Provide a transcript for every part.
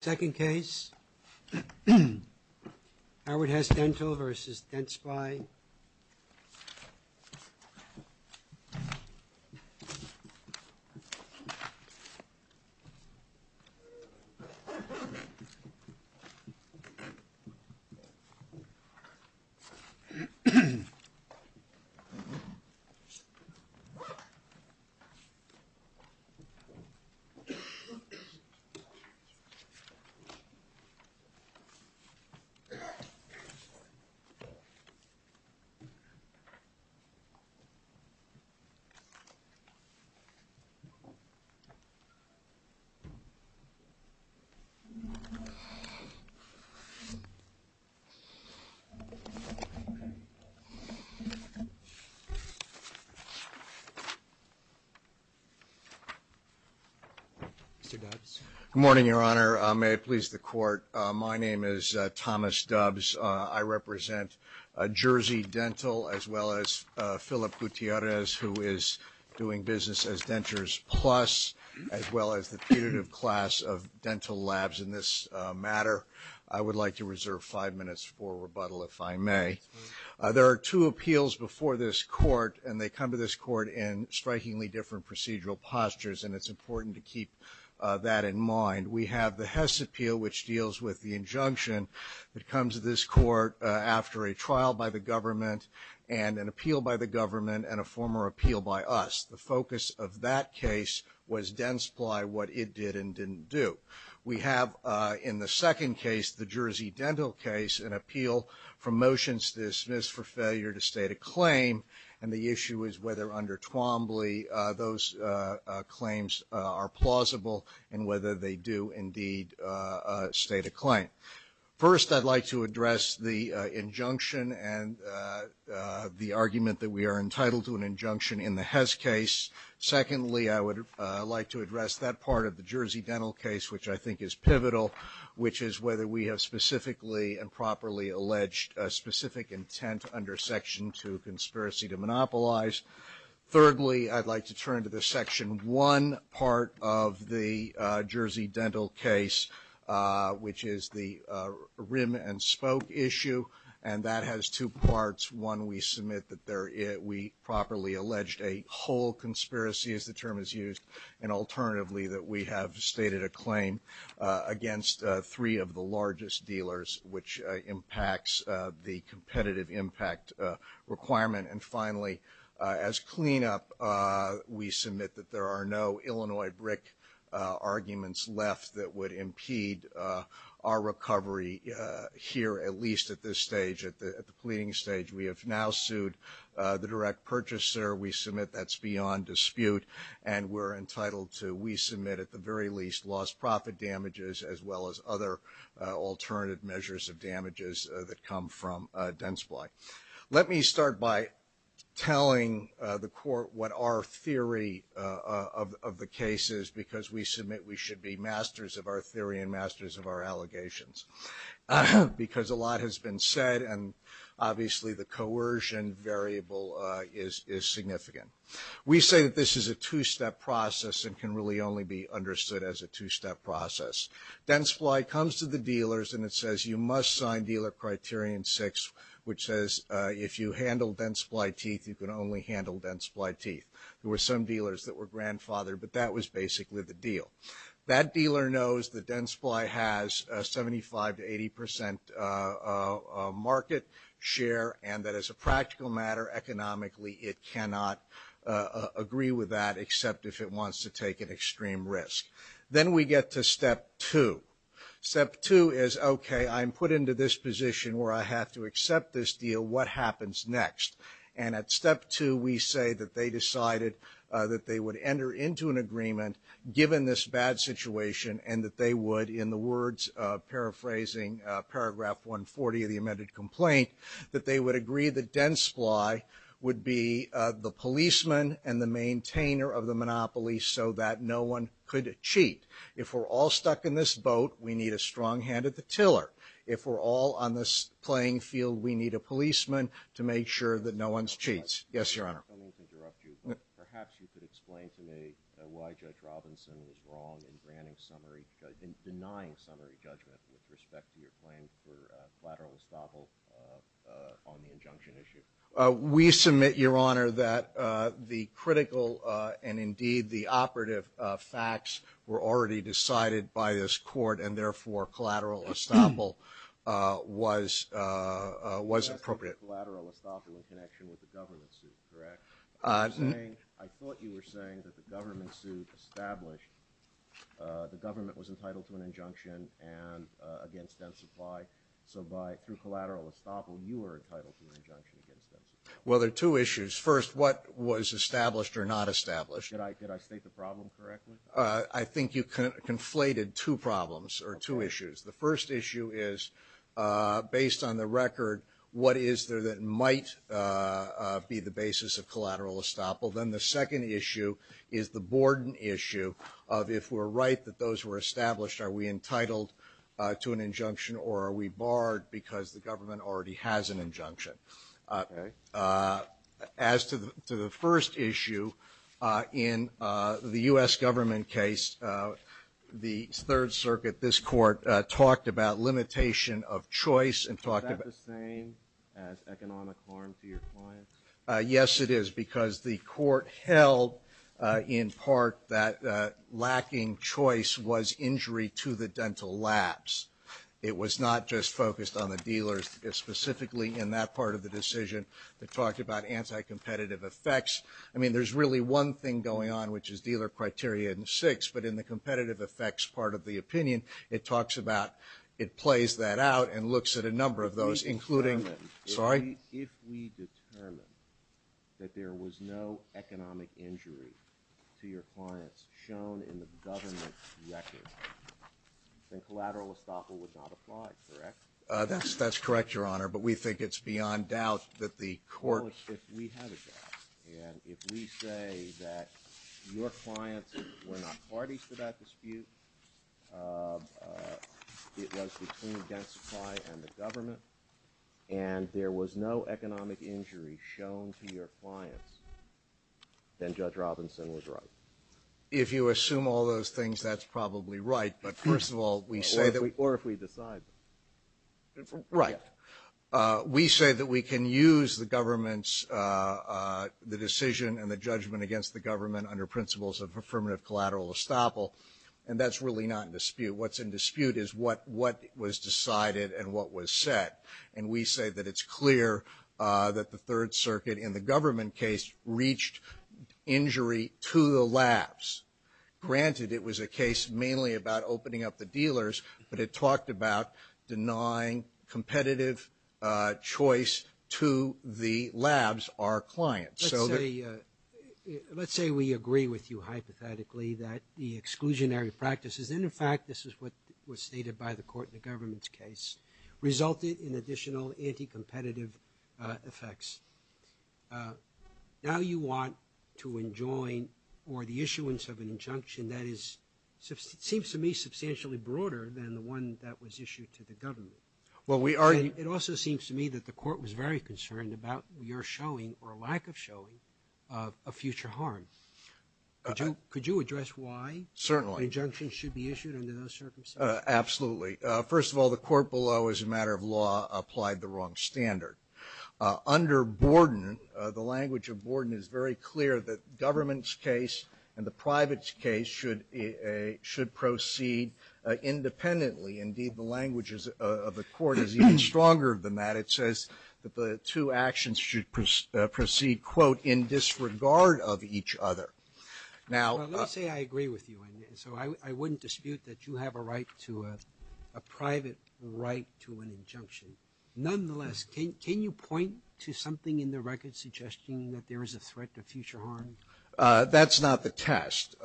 Second case, Howard Hess Dental Vs. Dentsply. Howard Hess Dental Vs. Dentsply. Good morning, Your Honor. May it please the Court, my name is Thomas Hess. I represent Jersey Dental, as well as Philip Gutierrez, who is doing business as Dentures Plus, as well as the punitive class of dental labs in this matter. I would like to reserve five minutes for rebuttal, if I may. There are two appeals before this Court, and they come to this Court in strikingly different procedural postures, and it's important to keep that in mind. We have the Hess appeal, which deals with the injunction that comes to this Court after a trial by the government, and an appeal by the government, and a former appeal by us. The focus of that case was Dentsply, what it did and didn't do. We have, in the second case, the Jersey Dental case, an appeal for motions to dismiss for failure to state a claim, and the issue is whether under Twombly, those claims are plausible, and whether they do indeed state a claim. First, I'd like to address the injunction and the argument that we are entitled to an injunction in the Hess case. Secondly, I would like to address that part of the Jersey Dental case, which I think is pivotal, which is whether we have specifically and properly alleged a specific intent under Section 2, conspiracy to monopolize. Thirdly, I'd like to turn to the Section 1 part of the Jersey Dental case, which is the rim and spoke issue, and that has two parts. One, we submit that we properly alleged a whole conspiracy, as the term is used, and alternatively, that we have stated a claim against three of the largest dealers, which impacts the competitive impact requirement. And finally, as cleanup, we submit that there are no Illinois brick arguments left that would impede our recovery here, at least at this stage, at the pleading stage. We have now sued the direct purchaser. We submit that's beyond dispute, and we're entitled to, we submit at the very least, lost profit damages, as well as other alternative measures of damages that come from Densply. Let me start by telling the court what our theory of the case is, because we submit we should be masters of our theory and masters of our allegations, because a lot has been said, and obviously the coercion variable is significant. We say that this is a two-step process and can really only be understood as a two-step process. Densply comes to the dealers and it says you must sign dealer criterion six, which says if you handle Densply teeth, you can only handle Densply teeth. There were some dealers that were grandfathered, but that was basically the deal. That dealer knows that Densply has a 75 to 80 percent market share, and that as a practical matter, economically, it cannot agree with that except if it wants to take an extreme risk. Then we get to step two. Step two is, okay, I'm put into this position where I have to accept this deal. What happens next? And at step two, we say that they decided that they would enter into an agreement, given this bad situation, and that they would, in the words, paraphrasing paragraph 140 of the Maintainer of the Monopoly so that no one could cheat. If we're all stuck in this boat, we need a strong hand at the tiller. If we're all on this playing field, we need a policeman to make sure that no one cheats. Yes, Your Honor. I don't mean to interrupt you, but perhaps you could explain to me why Judge Robinson was wrong in denying summary judgment with respect to your claim for lateral estoppel on the injunction issue. We submit, Your Honor, that the critical and, indeed, the operative facts were already decided by this Court, and therefore, collateral estoppel was appropriate. You're asking for collateral estoppel in connection with the government suit, correct? Mm-hmm. I thought you were saying that the government suit established the government was entitled to an injunction against dense supply. So through collateral estoppel, you were entitled to an injunction against dense supply. Well, there are two issues. First, what was established or not established? Could I state the problem correctly? I think you conflated two problems or two issues. Okay. The first issue is, based on the record, what is there that might be the basis of collateral estoppel. Then the second issue is the borden issue of if we're right that those were established, are we entitled to an injunction or are we barred because the government already has an injunction? Okay. As to the first issue, in the U.S. government case, the Third Circuit, this Court, talked about limitation of choice and talked about Is that the same as economic harm to your clients? Yes, it is, because the Court held in part that lacking choice was injury to the dental labs. It was not just focused on the dealers, specifically in that part of the decision that talked about anti-competitive effects. I mean, there's really one thing going on, which is dealer criteria in six, but in the competitive effects part of the opinion, it talks about, it plays that out and looks at a number of those, including Sorry? If we determine that there was no economic injury to your clients shown in the government's record, then collateral estoppel would not apply, correct? That's correct, Your Honor, but we think it's beyond doubt that the Court Well, if we have a doubt, and if we say that your clients were not parties to that dispute, it was between Dent Supply and the government, and there was no economic injury shown to your clients, then Judge Robinson was right. If you assume all those things, that's probably right, but first of all, we say that Or if we decide Right. We say that we can use the government's, the decision and the judgment against the That's really not in dispute. What's in dispute is what was decided and what was set, and we say that it's clear that the Third Circuit in the government case reached injury to the labs. Granted, it was a case mainly about opening up the dealers, but it talked about denying competitive choice to the labs, our clients. Let's say we agree with you hypothetically that the exclusionary practices, and in fact this is what was stated by the Court in the government's case, resulted in additional anti-competitive effects. Now you want to enjoin or the issuance of an injunction that seems to me substantially broader than the one that was issued to the government. It also seems to me that the Court was very concerned about your showing or lack of showing a future harm. Could you address why an injunction should be issued under those circumstances? Absolutely. First of all, the Court below, as a matter of law, applied the wrong standard. Under Borden, the language of Borden is very clear that government's case and the private's case should proceed independently. Indeed, the language of the Court is even stronger than that. It says that the two actions should proceed, quote, in disregard of each other. Let's say I agree with you, and so I wouldn't dispute that you have a right to a private right to an injunction. Nonetheless, can you point to something in the record suggesting that there is a threat to future harm? That's not the test.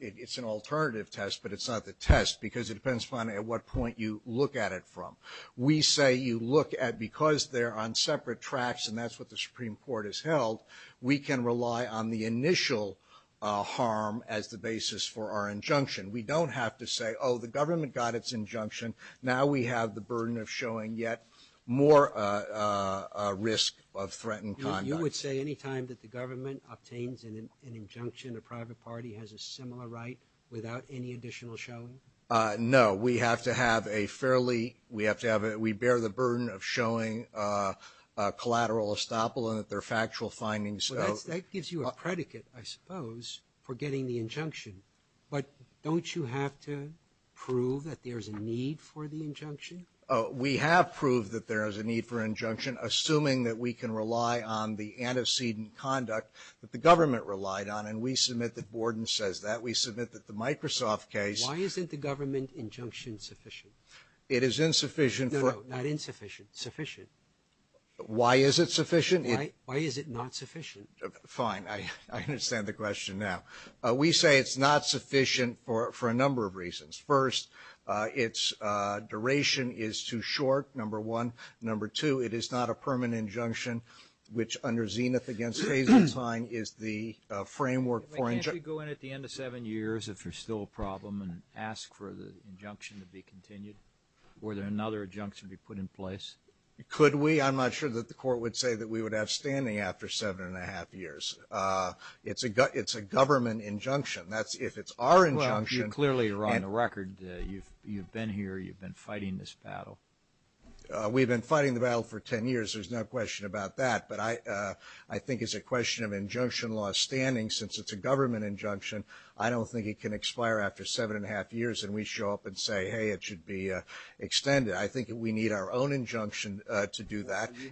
It's an alternative test, but it's not the test because it depends upon at what point you look at it from. We say you look at because they're on separate tracks, and that's what the Supreme Court has held, we can rely on the initial harm as the basis for our injunction. We don't have to say, oh, the government got its injunction. Now we have the burden of showing yet more risk of threatened conduct. So you would say any time that the government obtains an injunction, a private party has a similar right without any additional showing? No. We have to have a fairly – we have to have – we bear the burden of showing collateral estoppel and that there are factual findings. Well, that gives you a predicate, I suppose, for getting the injunction. But don't you have to prove that there's a need for the injunction? We have proved that there is a need for injunction, assuming that we can rely on the antecedent conduct that the government relied on, and we submit that Borden says that. We submit that the Microsoft case – Why isn't the government injunction sufficient? It is insufficient for – No, no, not insufficient. Sufficient. Why is it sufficient? Why is it not sufficient? Fine. I understand the question now. We say it's not sufficient for a number of reasons. First, its duration is too short, number one. Number two, it is not a permanent injunction, which, under Zenith against Hazeltine, is the framework for – Can't we go in at the end of seven years, if there's still a problem, and ask for the injunction to be continued? Would another injunction be put in place? Could we? I'm not sure that the Court would say that we would have standing after seven and a half years. It's a government injunction. If it's our injunction – Well, you clearly are on the record. You've been here. You've been fighting this battle. We've been fighting the battle for ten years. There's no question about that. But I think it's a question of injunction law standing. Since it's a government injunction, I don't think it can expire after seven and a half years and we show up and say, hey, it should be extended. I think we need our own injunction to do that. You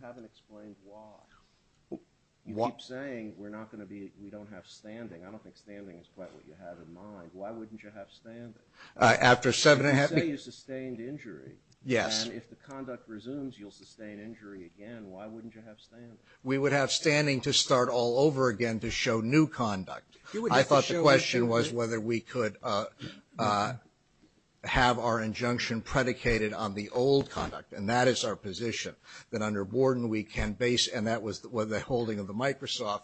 haven't explained why. You keep saying we're not going to be – we don't have standing. I don't think standing is quite what you have in mind. Why wouldn't you have standing? After seven and a half – You say you sustained injury. Yes. And if the conduct resumes, you'll sustain injury again. Why wouldn't you have standing? We would have standing to start all over again to show new conduct. I thought the question was whether we could have our injunction predicated on the old conduct, and that is our position, that under Borden we can base – and that was the holding of the Microsoft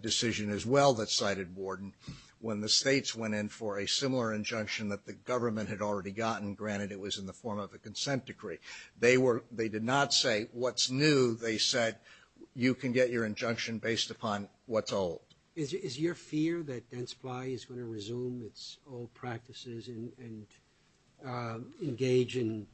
decision as well that cited Borden. When the states went in for a similar injunction that the government had already gotten, granted it was in the form of a consent decree, they were – they did not say what's new. They said you can get your injunction based upon what's old. Is your fear that Densply is going to resume its old practices and engage in,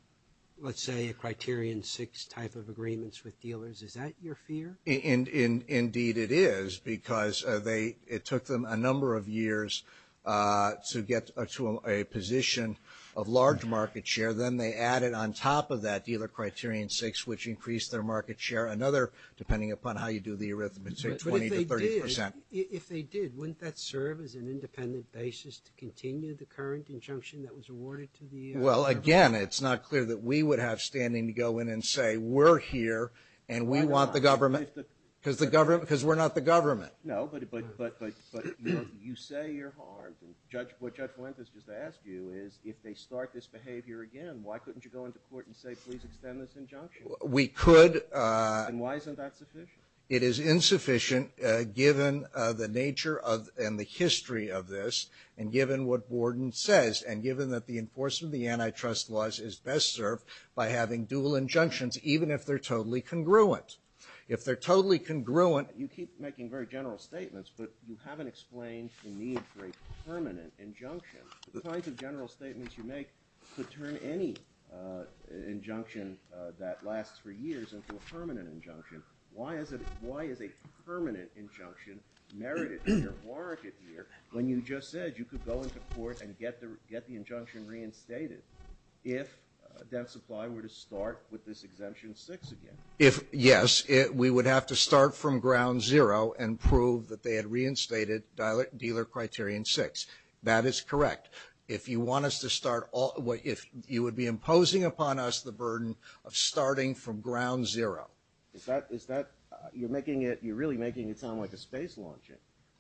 let's say, a Criterion 6 type of agreements with dealers? Is that your fear? Indeed it is because they – it took them a number of years to get to a position of large market share. Then they added on top of that dealer Criterion 6, which increased their market share another – depending upon how you do the arithmetic – 20 to 30 percent. If they did, wouldn't that serve as an independent basis to continue the current injunction that was awarded to the – Well, again, it's not clear that we would have standing to go in and say we're here and we want the government – Because the government – Because we're not the government. No, but you say you're harmed. What Judge Fuentes just asked you is if they start this behavior again, why couldn't you go into court and say please extend this injunction? We could. And why isn't that sufficient? It is insufficient given the nature and the history of this and given what Borden says and given that the enforcement of the antitrust laws is best served by having dual injunctions, even if they're totally congruent. If they're totally congruent – You keep making very general statements, but you haven't explained the need for a permanent injunction. The kinds of general statements you make could turn any injunction that lasts for years into a permanent injunction. Why is a permanent injunction merited here, warranted here, when you just said you could go into court and get the injunction reinstated if Debt Supply were to start with this Exemption 6 again? Yes, we would have to start from ground zero and prove that they had reinstated Dealer Criterion 6. That is correct. If you want us to start – If you would be imposing upon us the burden of starting from ground zero. Is that – You're making it – You're really making it sound like a space launch.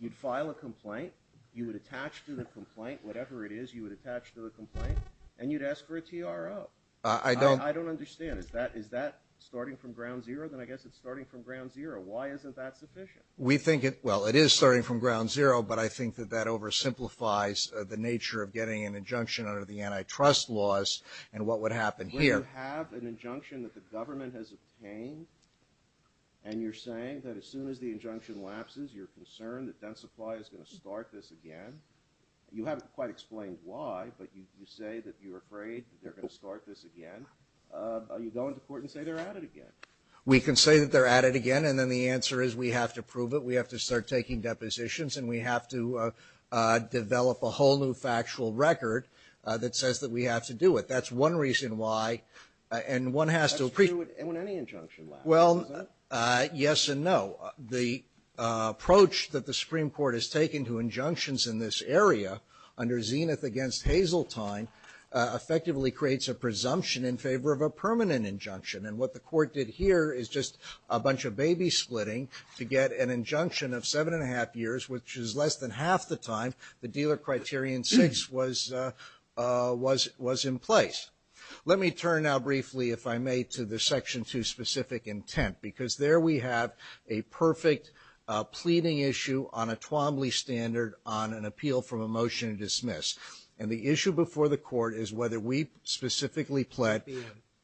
You'd file a complaint. You would attach to the complaint. Whatever it is, you would attach to the complaint. And you'd ask for a TRO. I don't understand. Is that starting from ground zero? Then I guess it's starting from ground zero. Why isn't that sufficient? We think it – Well, it is starting from ground zero, but I think that that oversimplifies the nature of getting an injunction under the antitrust laws and what would happen here. When you have an injunction that the government has obtained and you're saying that as soon as the injunction lapses, you're concerned that Dent Supply is going to start this again. You haven't quite explained why, but you say that you're afraid that they're going to start this again. Are you going to court and say they're at it again? We can say that they're at it again and then the answer is we have to prove it. We have to start taking depositions and we have to develop a whole new factual record that says that we have to do it. That's one reason why. And one has to – That's true when any injunction lapses, is that it? Well, yes and no. The approach that the Supreme Court has taken to injunctions in this area under Zenith against Hazeltine effectively creates a presumption in favor of a permanent injunction and what the court did here is just a bunch of baby splitting to get an injunction of seven and a half years, which is less than half the time the dealer criterion six was in place. Let me turn now briefly, if I may, to the Section 2 specific intent because there we have a perfect pleading issue on a Twombly standard on an appeal from a motion to dismiss and the issue before the court is whether we specifically plead.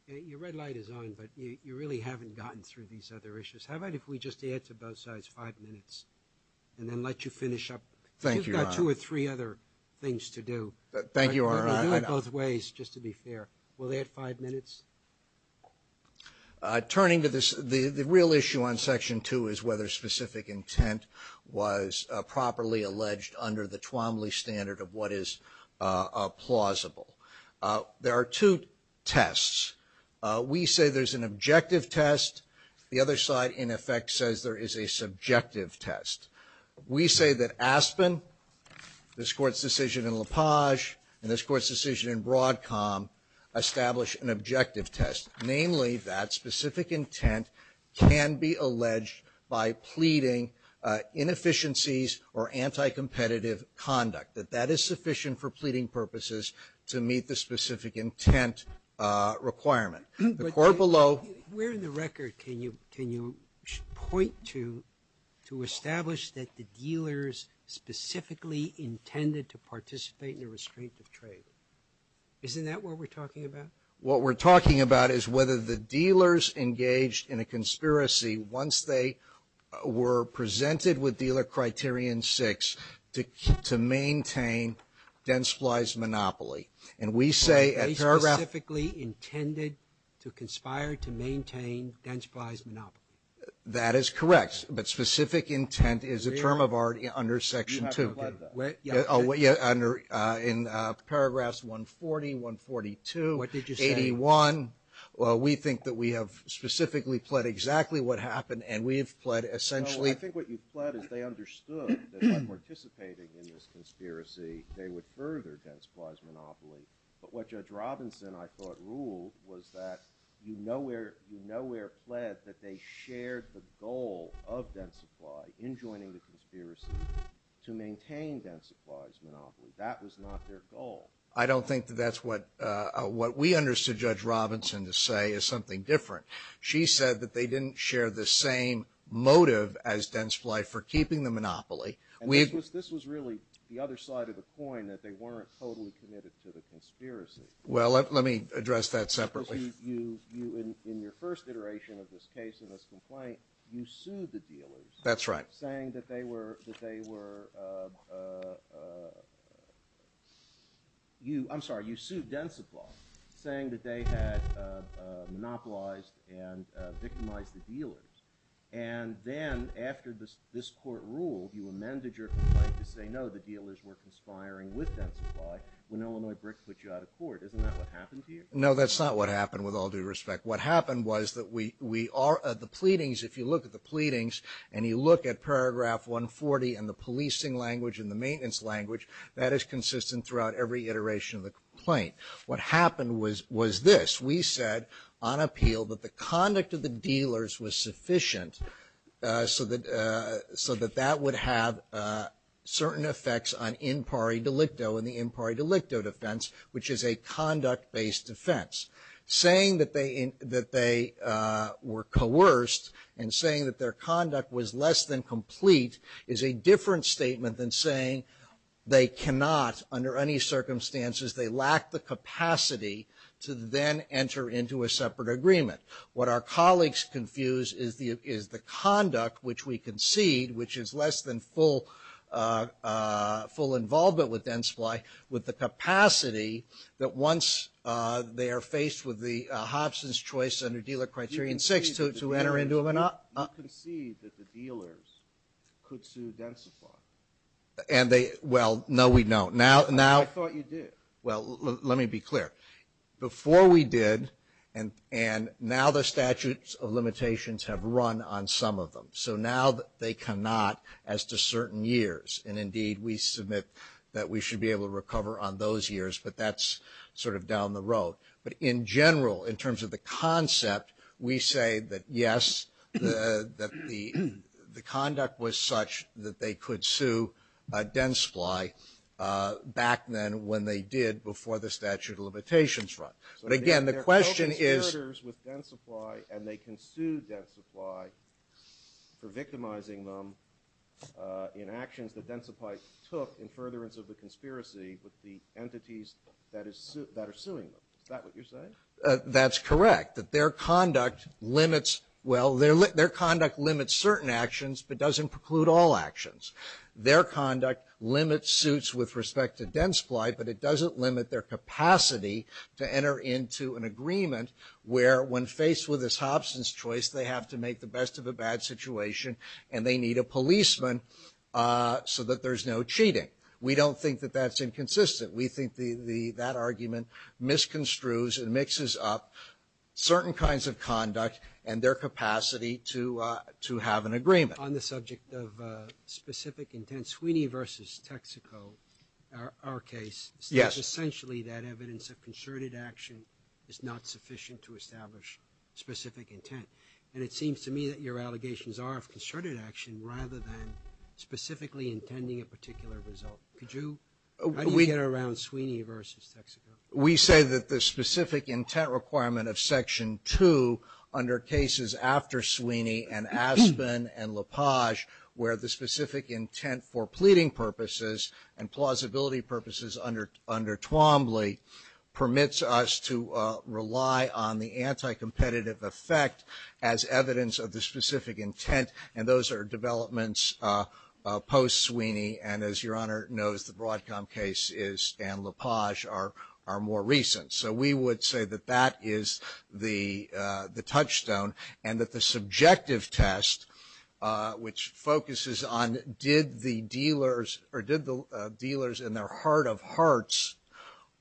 Your red light is on but you really haven't gotten through these other issues. How about if we just add to both sides five minutes and then let you finish up? Thank you, Your Honor. You've got two or three other things to do. Thank you, Your Honor. Let me do it both ways just to be fair. Will they add five minutes? Turning to the real issue on Section 2 is whether specific intent was properly alleged under the Twombly standard of what is plausible. There are two tests. We say there's an objective test. The other side, in effect, says there is a subjective test. We say that Aspen, this Court's decision in LaPage, and this Court's decision in Broadcom establish an objective test. Namely, that specific intent can be alleged by pleading inefficiencies or anti-competitive conduct. That that is sufficient for pleading purposes to meet the specific intent requirement. The court below Where in the record can you point to establish that the dealers specifically intended to participate in a restrictive trade? Isn't that what we're talking about? What we're talking about is whether the dealers engaged in a conspiracy once they were presented with Dealer Criterion 6 to maintain Densply's monopoly. And we say at paragraph They specifically intended to conspire to maintain Densply's monopoly. That is correct. But specific intent is a term of art under Section 2. You have to apply that. In paragraphs 140, 142, 81. What did you say? We think that we have specifically pled exactly what happened and we have pled essentially No, I think what you've pled is they understood that by participating in this conspiracy they would further Densply's monopoly. But what Judge Robinson, I thought, ruled was that you nowhere pled that they shared the goal of Densply in joining the conspiracy to maintain Densply's monopoly. That was not their goal. I don't think that that's what we understood Judge Robinson to say is something different. She said that they didn't share the same motive as Densply for keeping the monopoly. This was really the other side of the coin that they weren't totally committed to the conspiracy. Well, let me address that separately. In your first iteration of this case and this complaint, you sued the dealers. That's right. Saying that they were... I'm sorry, you sued Densply saying that they had monopolized and victimized the dealers. And then after this court ruled you amended your complaint to say no, the dealers were conspiring with Densply when Illinois BRIC put you out of court. Isn't that what happened to you? No, that's not what happened with all due respect. What happened was that the pleadings, if you look at the pleadings and you look at paragraph 140 and the policing language and the maintenance language, that is consistent throughout every iteration of the complaint. What happened was this. We said on appeal that the conduct of the dealers was sufficient so that that would have certain effects on in pari delicto in the in pari delicto defense, which is a conduct-based defense. Saying that they were coerced and saying that their conduct was less than complete is a different statement than saying they cannot, under any circumstances, they lack the capacity to then enter into a separate agreement. What our colleagues confuse is the conduct which we concede, which is less than full full involvement with Densply with the capacity that once they are faced with the Hobson's choice under dealer criterion six to enter into an... We now concede that the dealers could sue Densply. And they... Well, no, we don't. I thought you did. Well, let me be clear. Before we did and now the statutes of limitations have run on some of them. So now they cannot as to certain years. And indeed, we submit that we should be able to recover on those years, but that's sort of down the road. But in general, in terms of the concept, we say that, yes, that the conduct was such that they could sue Densply back then when they did before the statute of limitations run. But again, the question is... So there are no conspirators with Densply and they can sue Densply for victimizing them in actions that Densply took in furtherance of the conspiracy with the entities that are suing them. Is that what you're saying? That's correct. That their conduct limits, well, their conduct limits certain actions but doesn't preclude all actions. Their conduct limits suits with respect to Densply but it doesn't limit their capacity to enter into an agreement where when faced with this hobson's choice they have to make the best of a bad situation and they need a policeman so that there's no cheating. We don't think that that's inconsistent. We think that argument misconstrues and mixes up certain kinds of conduct and their capacity to have an agreement. On the subject of specific intent Sweeney versus Texaco our case Yes. It's essentially that evidence of concerted action is not sufficient to establish specific intent and it seems to me that your allegations are of concerted action rather than specifically intending a particular result. Could you How do you get around Sweeney versus Texaco? We say that the specific intent is a requirement of Section 2 under cases after Sweeney and Aspen and La Page where the specific intent for pleading purposes and plausibility purposes under Twombly permits us to rely on the anti-competitive effect as evidence of the specific intent and those post Sweeney and as your Honor knows the Broadcom case is and La Page are more recent so we would say that that is not sufficient to establish specific intent that is the touchstone and that the subjective test which focuses on did the dealers or did the dealers in their heart of hearts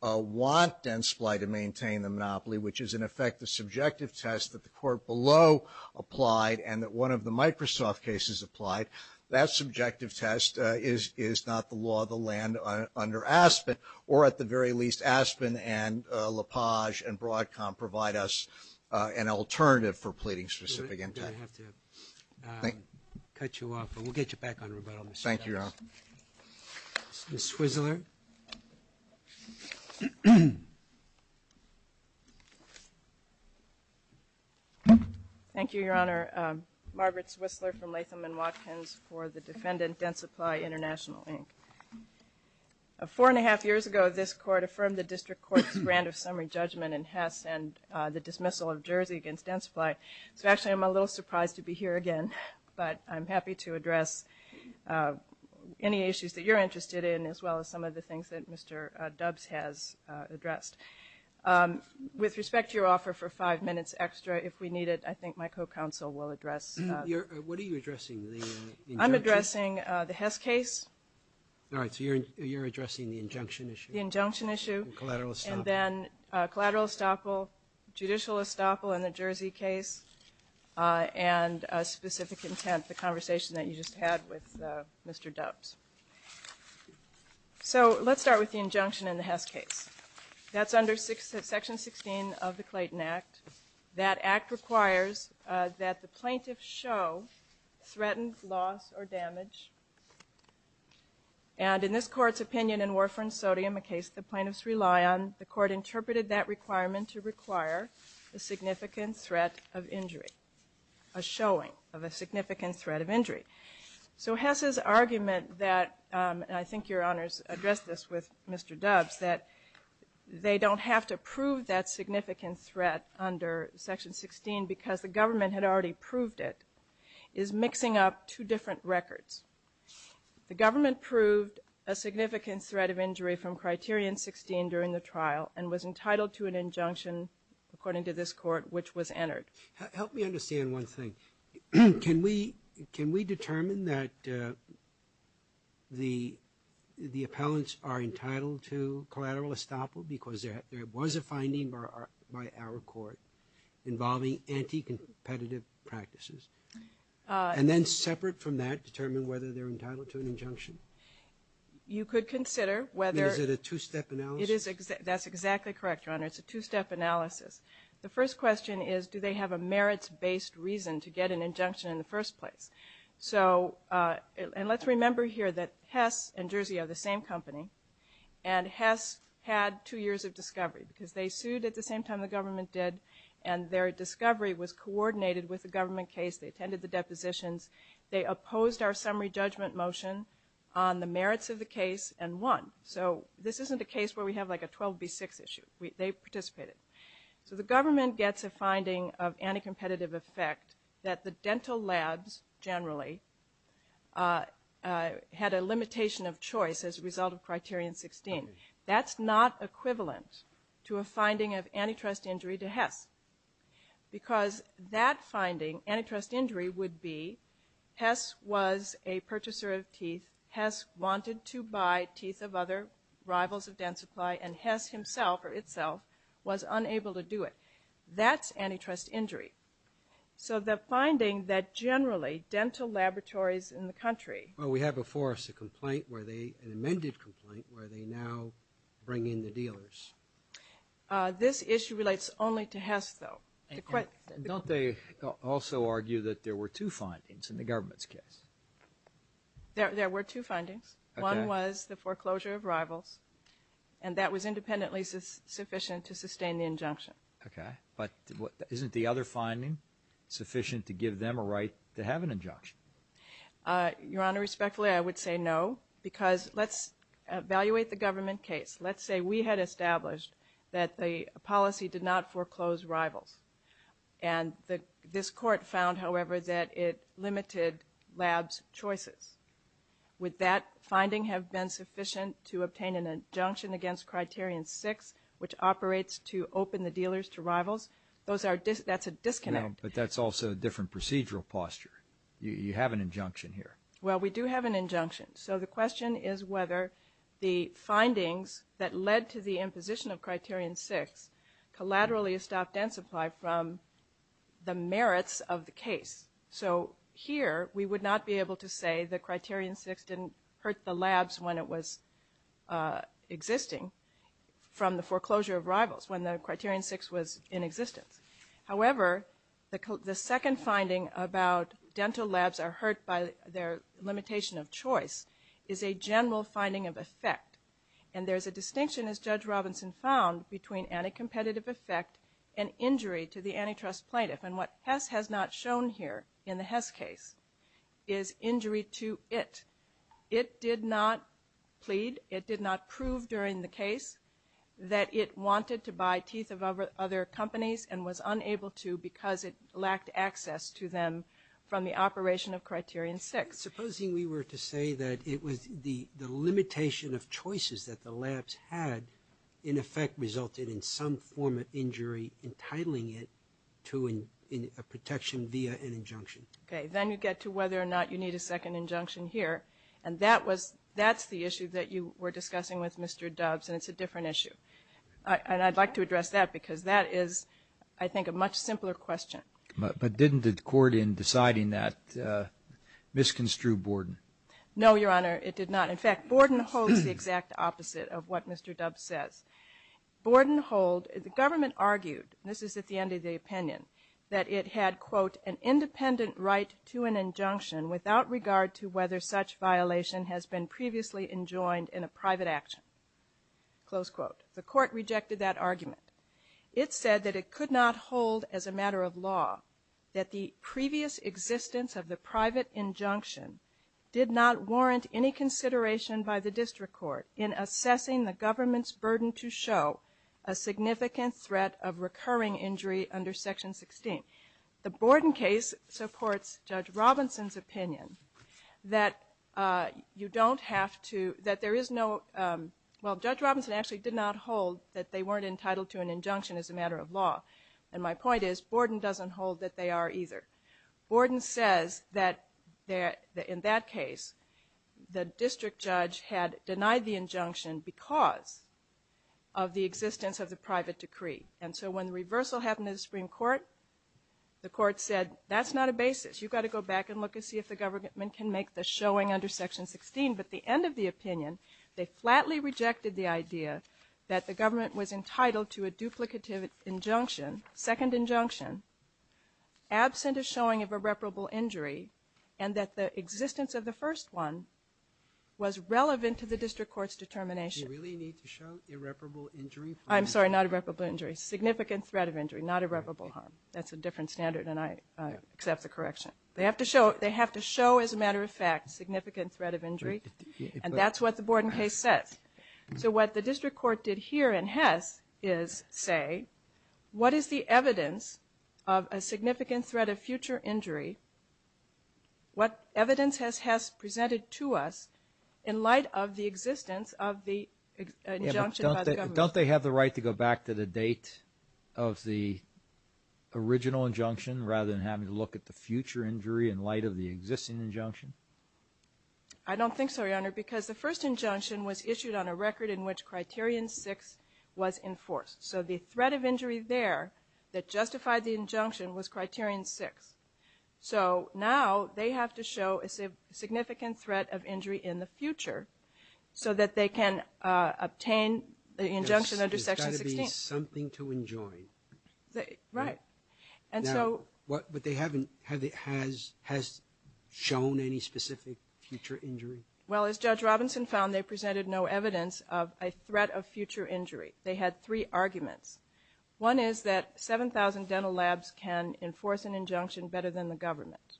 want Densply to maintain the monopoly which is in effect the subjective test that the court below applied and that one of the Microsoft cases applied that subjective test is not the law of the land under Aspen or at the very least Aspen and Broadcom provide us an alternative for pleading specific intent I have to cut you off but we'll get you back on rebuttal Thank you Your Honor Ms. Swizzler Thank you Your Honor Margaret Swizzler from Latham and Watkins for the defendant Densply International Inc. Four and a half years ago this court affirmed the district court's grand of summary judgment in Hess and the dismissal of Jersey against Densply so actually I'm a little surprised to be here again but I'm happy to address any issues that you're interested in as well as some of the things that Mr. Dubs has addressed With respect to your offer for five minutes extra if we need it I think my co-counsel will address I'm addressing the Hess case All right so you're addressing the injunction issue and then collateral estoppel judicial estoppel in the Jersey case and specific intent the conversation that you just had with Mr. Dubs so let's start with the injunction in the Hess case that's under section 16 of the Clayton Act that act requires that the plaintiff show threatened loss or damage and in this court's opinion in Warfarin Sodium a case the plaintiffs rely on the court interpreted that requirement to require a significant threat of injury and I think your honors addressed this with Mr. Dubs that they don't have to prove that significant threat under section 16 because the government had already proved it is mixing up two different records the government proved a significant threat of injury from criterion 16 during the trial and was entitled to an injunction according to this court which was entered help me understand one thing can we determine that the appellants are entitled to collateral estoppel because there was a finding by our court involving anti-competitive practices and then that's exactly correct your honors it's a two step analysis the first question is do they have a merits based reason to get an injunction in the first place so and let's remember here that Hess and Jersey are the same company and Hess had two years of discovery because they sued at the same time the government did and their discovery was coordinated with the government case they attended the depositions they opposed our summary judgment motion on the merits of the case and won so this isn't a case where we have like a 12B6 issue they participated so the government gets a finding of anti-competitive effect that the dental labs generally had a limitation of choice as a result of criterion 16 that's not equivalent to a finding of antitrust injury to Hess because that finding antitrust injury would be Hess was a purchaser of teeth Hess wanted to buy teeth of other rivals of dental supply and Hess himself or itself was unable to do it that's antitrust injury so the finding that generally dental laboratories in the country well we have before us a complaint where they an amended complaint where they now bring in their dealers this issue relates only to Hess though don't they also argue that there were two findings in the government's case there were two findings one was the foreclosure of rivals and that was independently sufficient to sustain the injunction okay but isn't the other finding sufficient to give we had established that the policy did not foreclose rivals and this court found however that it limited labs choices would that finding have been sufficient to obtain an injunction against criterion six which operates to open the dealers to rivals that's a disconnect but that's also a different procedural posture you have an injunction here well we do have an injunction so the question is whether the findings that led to the imposition of criterion six collaterally stopped N supply from the merits of the case so here we would not be able to say the criterion six didn't hurt the labs when it was existing from the foreclosure of rivals when the criterion six was in existence however the second finding about dental labs are hurt by their limitation of choice is a general finding of effect and there's a distinction as Judge Robinson found between anti-competitive effect and injury to the antitrust plaintiff and what Hess has not shown here in the Hess case is injury to it it did not plead it did not prove during the case that it wanted to buy teeth of other companies and was unable to because it lacked access to them from the operation of criterion six supposing we were to say that it was the limitation of choices that the labs had in effect resulted in some form of injury entitling it to a protection via an injunction okay then you get to whether or not you need a second injunction here and that was that's the issue that you were discussing with Mr. Doves and it's a different issue and I'd like to address that because that is I think a much simpler question but didn't the court in deciding that misconstrued Borden no your honor it did not in fact Borden holds the exact opposite of what Mr. Doves says Borden hold the government argued this is at the end of the opinion that it had quote an independent right to an injunction without regard to whether such violation has been previously enjoined private action close quote the court rejected that argument it said that it could not hold as a matter of law that the previous existence of the private injunction did not warrant any consideration by the district court in assessing the government's burden to show a significant threat of recurring injury under section 16 the Borden case supports Judge Robinson's opinion that you don't have to that there is no well Judge Robinson actually did not hold that they weren't entitled to an injunction as a matter of law and my point is Borden doesn't hold that they are either Borden says that in that case the district judge had denied the injunction because of the of the private decree and so when the reversal happened in the Supreme Court the court said that's not a basis you got to go back and look and see if the government can make the showing under section 16 but the end of the opinion they flatly rejected the idea that the government was entitled to a they have to show as a matter of fact significant threat of injury and that's what the Borden case says so what the district court did here in Hess is say what is the evidence of a significant threat of future injury in light of the original injunction rather than having to look at the future injury in light of the existing injunction I don't think so your honor because the first injunction was issued on a record in which criterion six was enforced so the threat of injury there that justified the injunction was criterion six so now they have to show a significant threat of injury in the future so that they can obtain the injunction under section 16 something to enjoy right and so what but they haven't has shown any specific future injury well as judge Robinson found they presented no evidence of a threat of future injury they had three arguments one is that seven thousand dental labs can enforce an injunction better than the government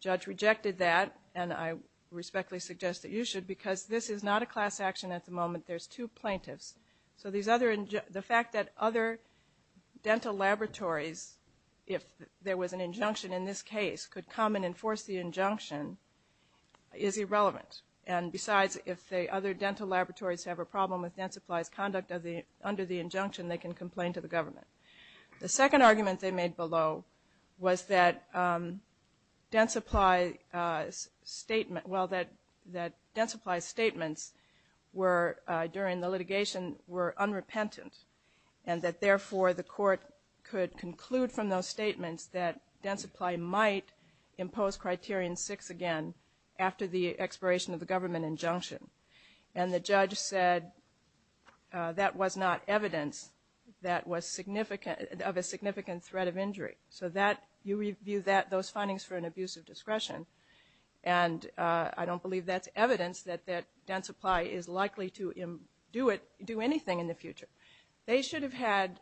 judge they rejected that and I respectfully suggest that you should because this is not a class action at the moment there's two plaintiffs so these other the fact that other dental laboratories if there was an injunction in this case could come and enforce the injunction is irrelevant and besides if they other dental laboratories have a problem with dental supplies conduct under the injunction they can complain to the government the second argument they made below was that dental supplies statement well that that dental supplies statements were during the litigation were unrepentant and that therefore the court could conclude from those statements that dental supplies might impose criterion six again after the expiration of the government injunction and the judge said that was not evidence that was significant of a significant threat of injury so that you review that those findings for an abuse of discretion and I don't believe that's evidence that dental supply is likely to do it do anything in the future they should have had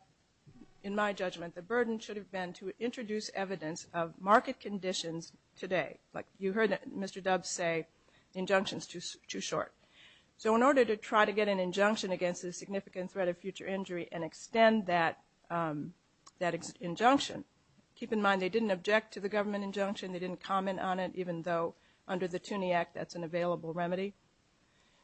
in my judgment the burden should have been to introduce evidence of market conditions today like you heard Mr. Dubbs say injunction is too short so in our proceeding taken an injunction against a significant threat of future injury and extend that injunction keep in mind they didn't object to the government injunction they didn't comment on it even though under the Tuney Act that's an available remedy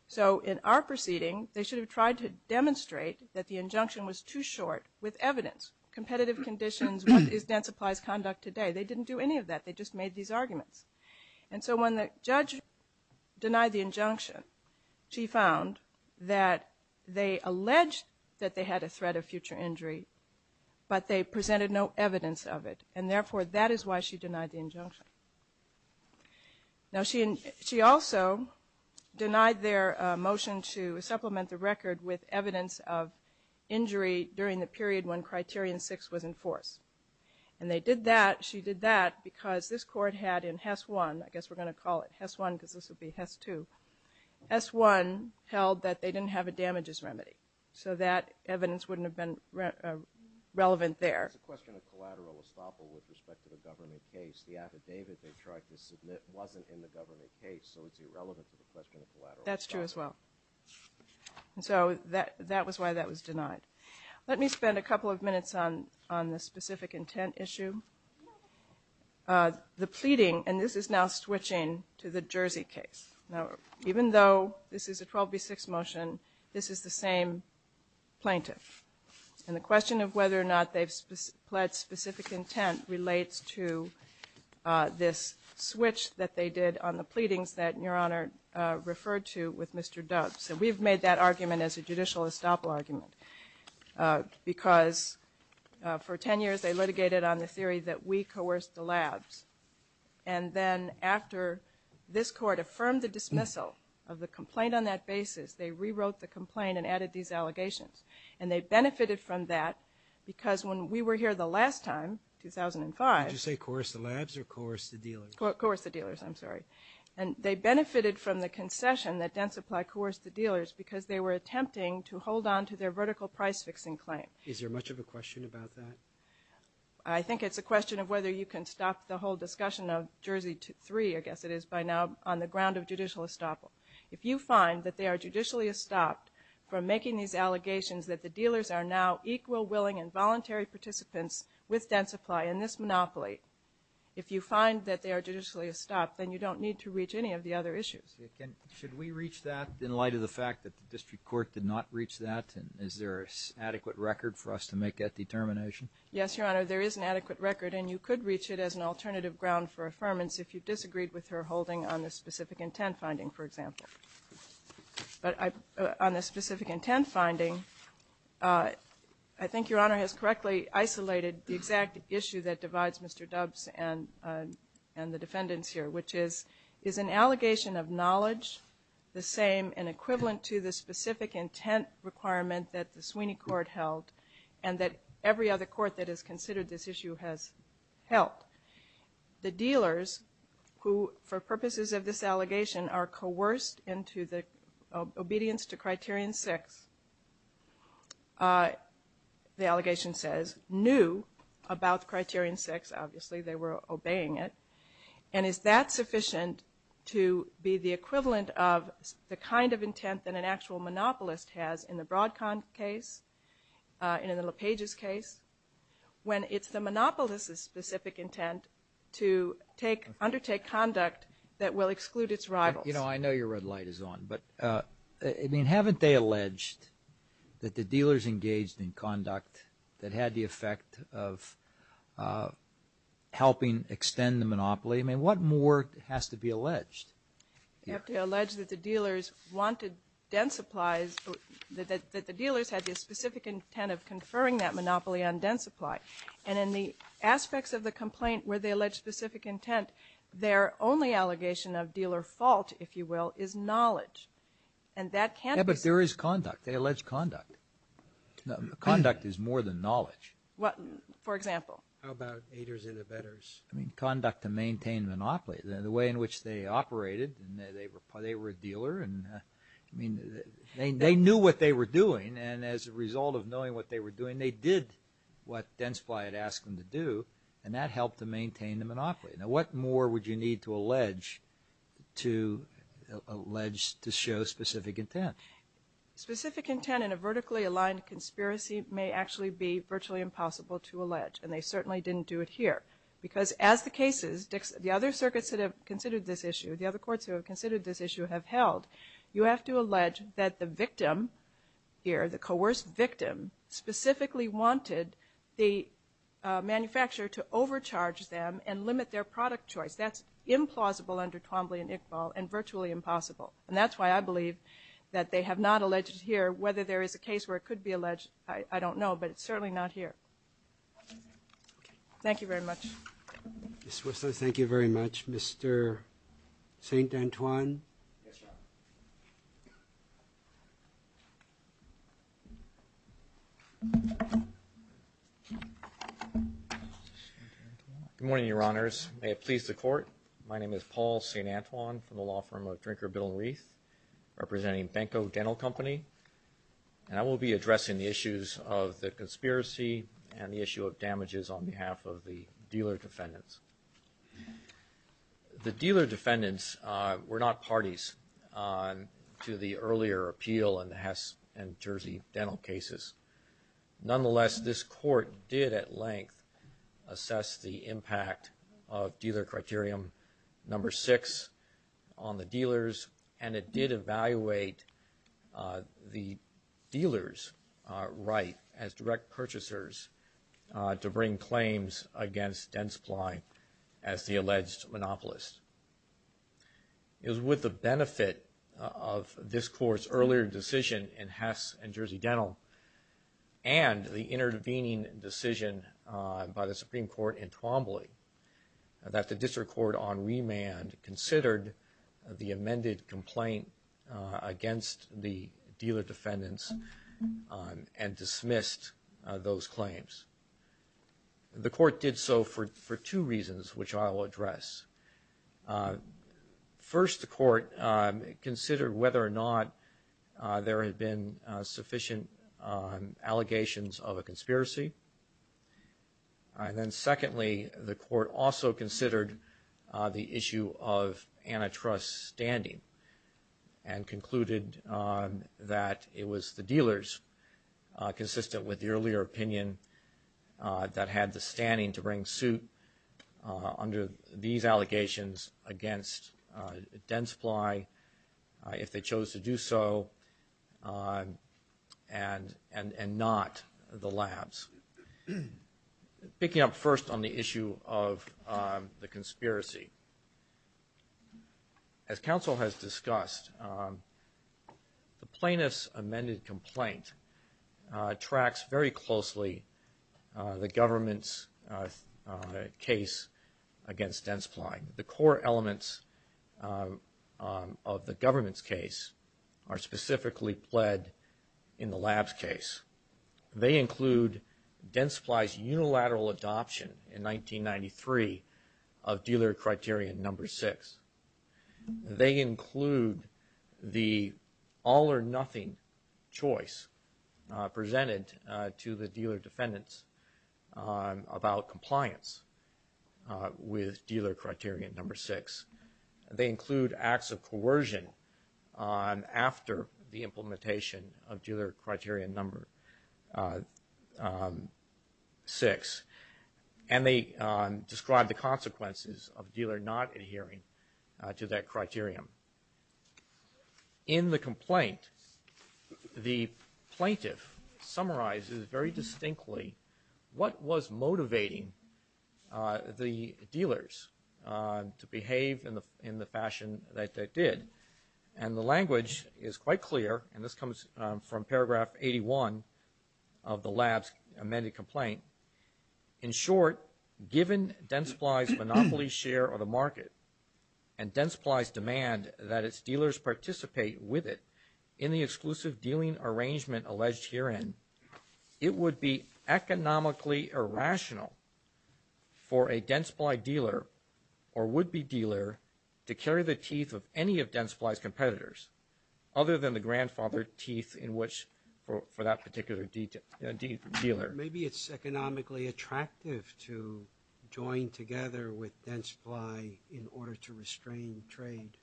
so in our proceeding they should have tried to demonstrate that the injunction was too short with evidence competitive conditions what is dental supplies conduct today they didn't do any of that they just made these arguments and so when the court went to supplement the record with evidence of injury during the period when criterion 6 was enforced and they did that she did that because this court had in HES 1 I guess we're going to call it HES 1 because this would be HES 2 HES 1 held that they didn't have a damages remedy so that evidence wouldn't have been relevant there that's true as well so that was why that was denied let me spend a couple of minutes on this specific intent issue the pleading and this is now switching again to the Jersey case now even though this is a 12B6 motion this is the same plaintiff and the question of whether or not they've pled specific intent relates to this switch that they did on the pleadings that your honor referred to with Mr. Doug so we've made that this court affirmed the dismissal of the complaint on that basis they rewrote the complaint and added and they benefited from that because when we were here the last time 2005 did you say coerce the labs or coerce the dealers coerce the dealers I'm sorry and they benefited from the allegations by now on the ground of judicial estoppel if you find that they are judicially estopped from making these allegations that the dealers are now equal willing and voluntary participants with dense supply in this monopoly if you find that they are judicially estopped then you don't need to reach any of the other issues should we reach that in light of the fact that the district court did not reach that and is there an adequate record for us to make that determination yes your honor there is an adequate record and you could reach it as an alternative ground for affirmance if you disagreed with her holding on the specific intent finding for which is an allegation of knowledge the same and equivalent to the specific intent requirement that the Sweeney court held and that every other court that has considered this sufficient to be the equivalent of the kind of intent that an actual monopolist has in the Broadcom case in the LePage's case when it's the monopolist's specific intent to have had the effect of helping extend the monopoly I mean what more has to be alleged you have to allege that the dealers wanted den supplies that the dealers had the specific intent of conferring that monopoly on den supply and in the aspects of the complaint where they allege specific intent their only allegation of dealer fault if you will is knowledge and that can't be there is conduct they allege conduct conduct is more than knowledge what for example about I mean conduct to maintain monopoly the way in which they operated they were a dealer I mean they knew what they were doing and as a result of knowing what they were doing they did what den supply had asked them to do and that helped to maintain the monopoly now what more would you need to allege to allege to show specific intent specific intent in a vertically aligned conspiracy may actually be virtually impossible to allege and they certainly didn't do it here because as the cases the other circuits that have considered this issue have held you have to allege that the victim here the coerced victim specifically wanted the manufacturer to overcharge them and limit their product choice that's implausible under Twombly and Iqbal and virtually impossible and that's why I believe that they have not alleged here whether there is a case where it could be alleged I don't know but it's certainly not here thank you very much thank you very much Mr. St. Antoine yes your honor may it please the court my name is Paul St. Antoine representing Benko Dental Company and I will be addressing the issues of the conspiracy and the issue of damages on behalf of the dealer defendants the dealer defendants were not parties to the earlier appeal in the Hes and Jersey dental cases nonetheless this court did at length assess the impact of dealer criterion number six on the dealers and it did evaluate the dealers right as direct purchasers to bring claims against Dentsply as the alleged monopolist it was with the benefit of this court's earlier decision in Hes and Jersey Dental and the intervening decision by the Supreme Court in Twombly that the court reviewed the defendants and dismissed those claims the court did so for two reasons which I will address first the court considered whether or not there had been sufficient allegations of a conspiracy and then secondly the court also considered the issue of antitrust standing and concluded that it was the dealers consistent with the earlier opinion that had the standing to bring suit under these allegations against Dentsply if they could pick up first on the issue of the conspiracy as counsel has discussed the plaintiff's amended complaint tracks very closely the government's case against Dentsply the core elements of the government's case are specifically in the lab's case. They include Dentsply's unilateral adoption in 1993 of dealer criterion number six. They include the all or nothing choice presented to the dealer defendants about compliance with dealer criterion number six. They include acts of coercion on after the implementation of dealer criterion number six and they describe the consequences of dealer not adhering to that criterion. In the complaint the plaintiff summarizes very distinctly what was motivating the dealers to behave in the fashion that they did and the language is quite clear and this comes 81 of the lab's amended complaint. In short given Dentsply's monopoly share of the market and Dentsply's demand that its dealers participate with it in the exclusive dealing arrangement alleged herein it would be economically irrational for a Dentsply dealer or would-be dealer to carry the teeth of any of Dentsply's competitors other than the grandfather teeth in which for that particular dealer. Maybe it's economically attractive to join together with Dentsply in order to restrain trade.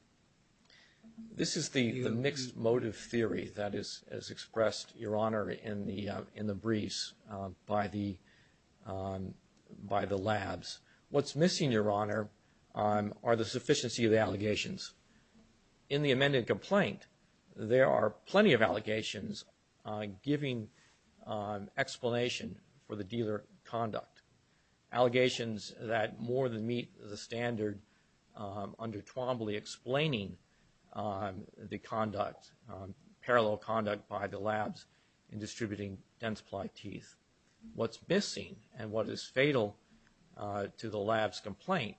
This is the mixed motive theory that is expressed your honor in the briefs by the by the labs. What's missing your honor are the sufficiency of the allegations. In the amended complaint there are plenty of parallel conduct. Allegations that more than meet the standard under Twombly explaining the conduct parallel conduct by the labs in distributing Dentsply teeth. What's missing and what is fatal to the labs complaint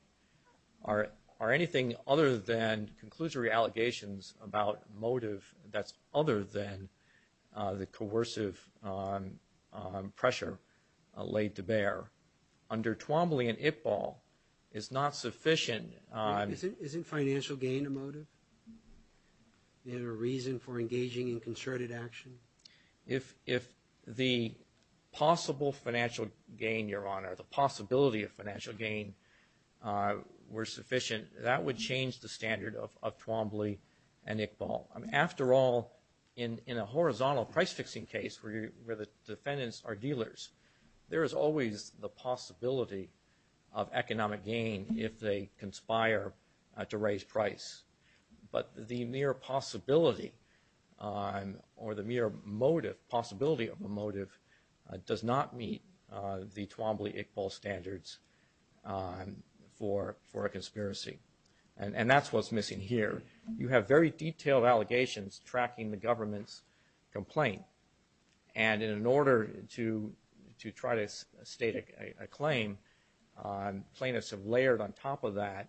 are anything other than that there under Twombly and Iqbal is not sufficient. Isn't financial gain a motive and a reason for engaging in concerted action? If the possible financial gain your honor the possibility of financial gain were sufficient that would change the standard of Twombly and Iqbal. After all in a horizontal price fixing case where the defendants are dealers there is always the possibility of economic gain if they conspire to raise price. But the mere possibility or the mere possibility of a motive does not meet the Twombly Iqbal standards for a conspiracy and that's what's missing here. You have very detailed allegations tracking the government's complaint and in order to try to state a claim plaintiffs have layered on top of that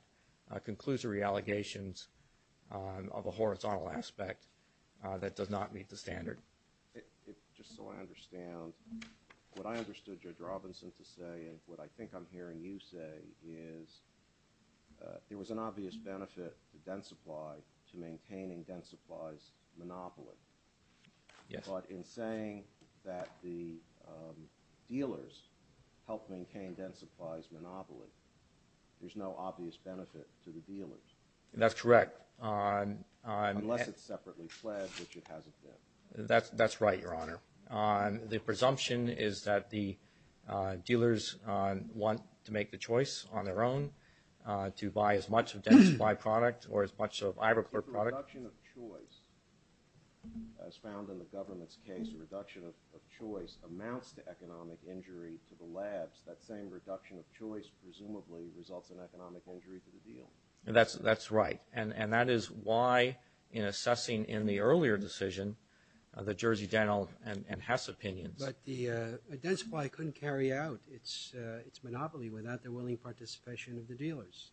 conclusory allegations of a horizontal aspect that does not meet the standard. Just so I understand what I understood Judge Robinson to say and what I think I'm hearing you say is there was an obvious benefit to Dent Supply to maintaining Dent Supply's monopoly. But in saying that the dealers helped maintain Dent Supply's monopoly there's no obvious benefit to the dealers. That's correct. Unless it's separately pledged which it hasn't been. That's right Your Honor. If the dealers want to make choice on their own to buy as much of Dent Supply product or as much of Iverclerk product The reduction of choice as found in the government's case amounts to its monopoly without the willing participation of the dealers.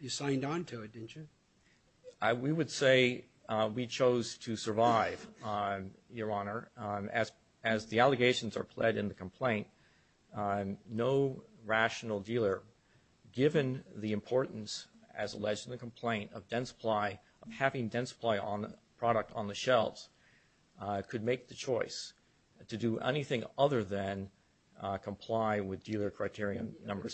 You signed on to it didn't you? We would say we chose to survive Your Honor. As the allegations are pledged in the complaint no rational dealer given the importance as alleged in the case of Iverclerk and Iverclerk would not comply with dealer criteria number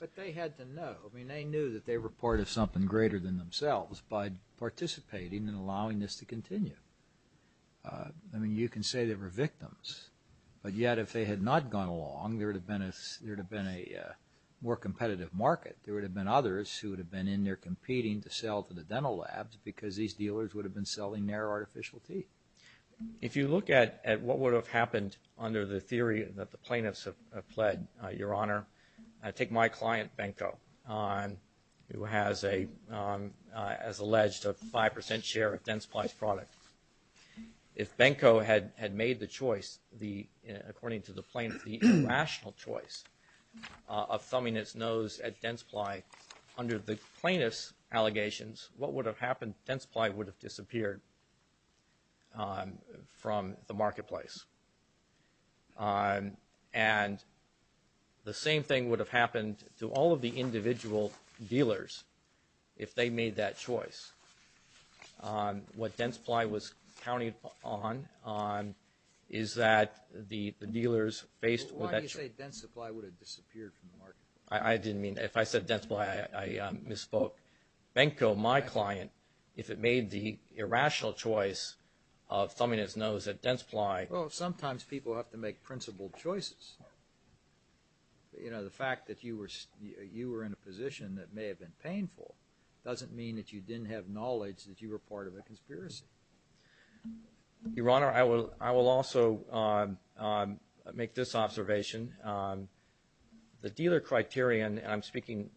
But they had to know I mean that they knew they were part of something greater than themselves by participating and allowing this to continue I mean you can say they were victims but yet if they had not gone along there would have been a more competitive market there would have been others who would have been in there competing to sell to the dental labs because these dealers would have been selling their artificial teeth If you look at what would have happened under the theory that the plaintiffs have pled your honor take my client Benko who has a as alleged 5% share of Densply product if Benko had made the choice according to the plaintiffs the rational choice of thumbing his nose at Densply under the plaintiffs allegations what would have happened Densply would have disappeared from the marketplace and the same thing would have happened to all of the individual dealers if they made that choice what Densply was counting upon is that the dealers faced with that choice I didn't know that Densply well sometimes people have to make principled choices you know the fact that you were in a position that may have been painful doesn't mean that you didn't have knowledge that you were part of a conspiracy your honor I will also make this observation the dealer criterion I'm speaking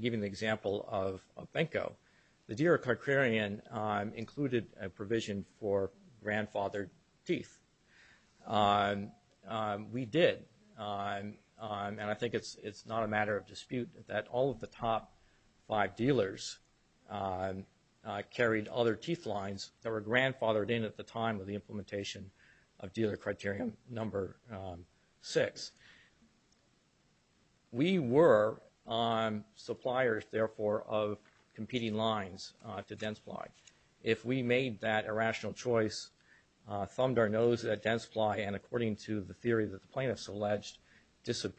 giving the example of Benko the dealer criterion included a provision for grandfathered teeth we did and I think it's not a matter of dispute that all of the top five dealers carried other teeth lines that were grandfathered in at the time of the implementation of dealer criterion number six we were on suppliers therefore of competing lines to Densply if we made that decision that is correct but that doesn't say that they lack the capacity to take our step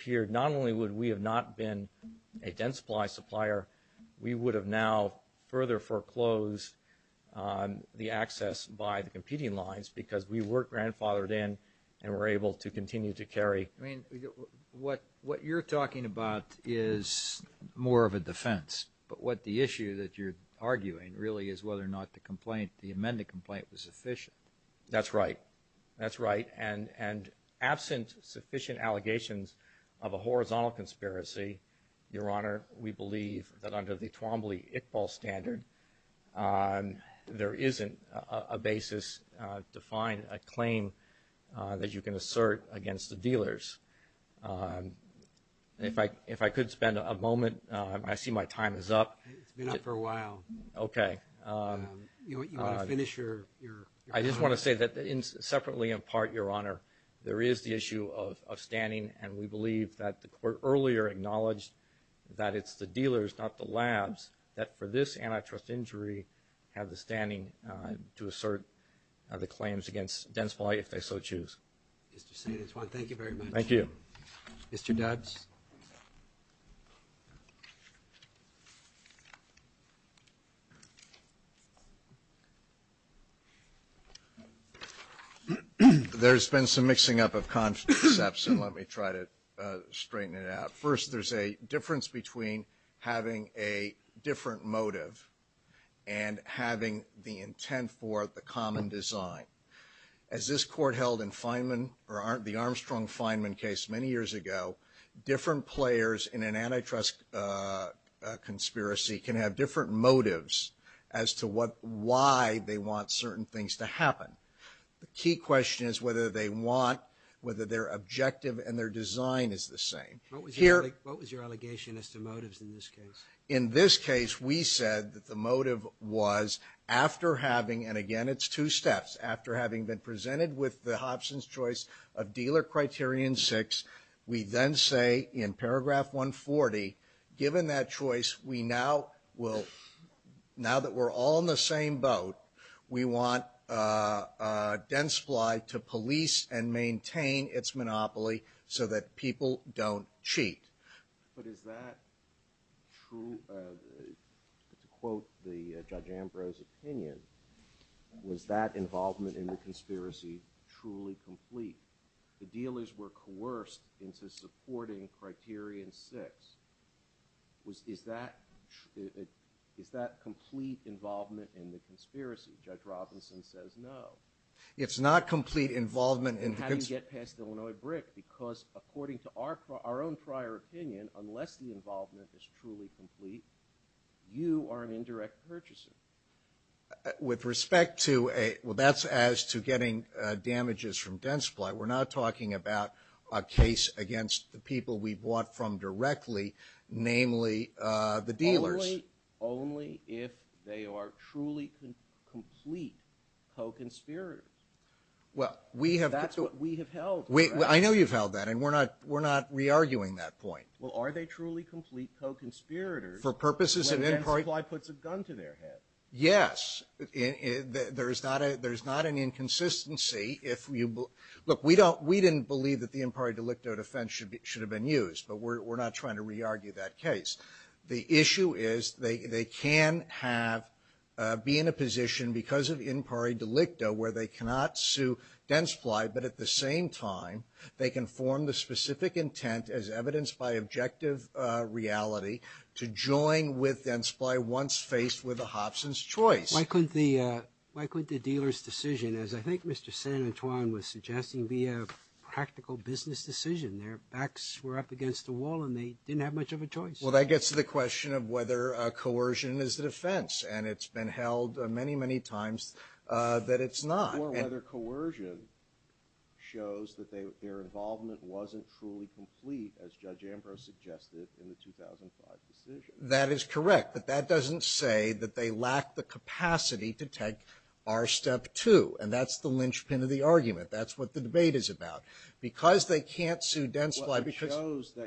two and that's the linchpin of the argument that's what the debate is about because they can't sue Densply because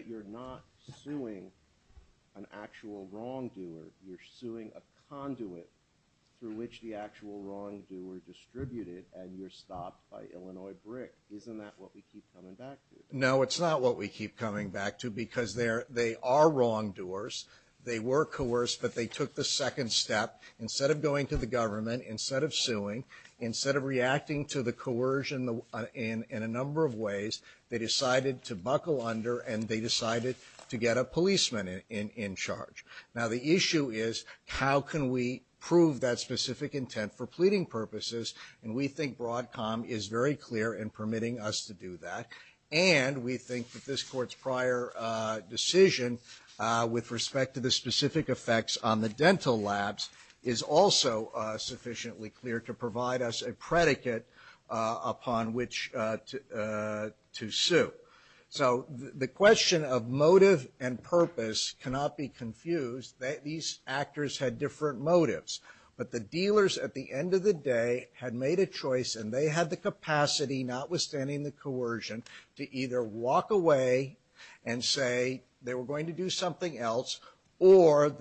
you're not suing an actual wrongdoer you're suing a conduit through which the actual wrongdoer distributed and you're stopped by Illinois brick isn't that what we keep coming back to? No it's not what we keep coming back to because they are wrongdoers they were coerced but they took the second step instead of going to the government instead of suing instead of going to the court and we think that this court's prior decision with respect to the specific effects on the dental labs is also sufficiently clear to provide us a predicate upon which to sue so the question of motive and the of the different motives but the dealers at the end of the day had made a choice and they had the capacity notwithstanding the coercion to either walk away and say they were going to do something else or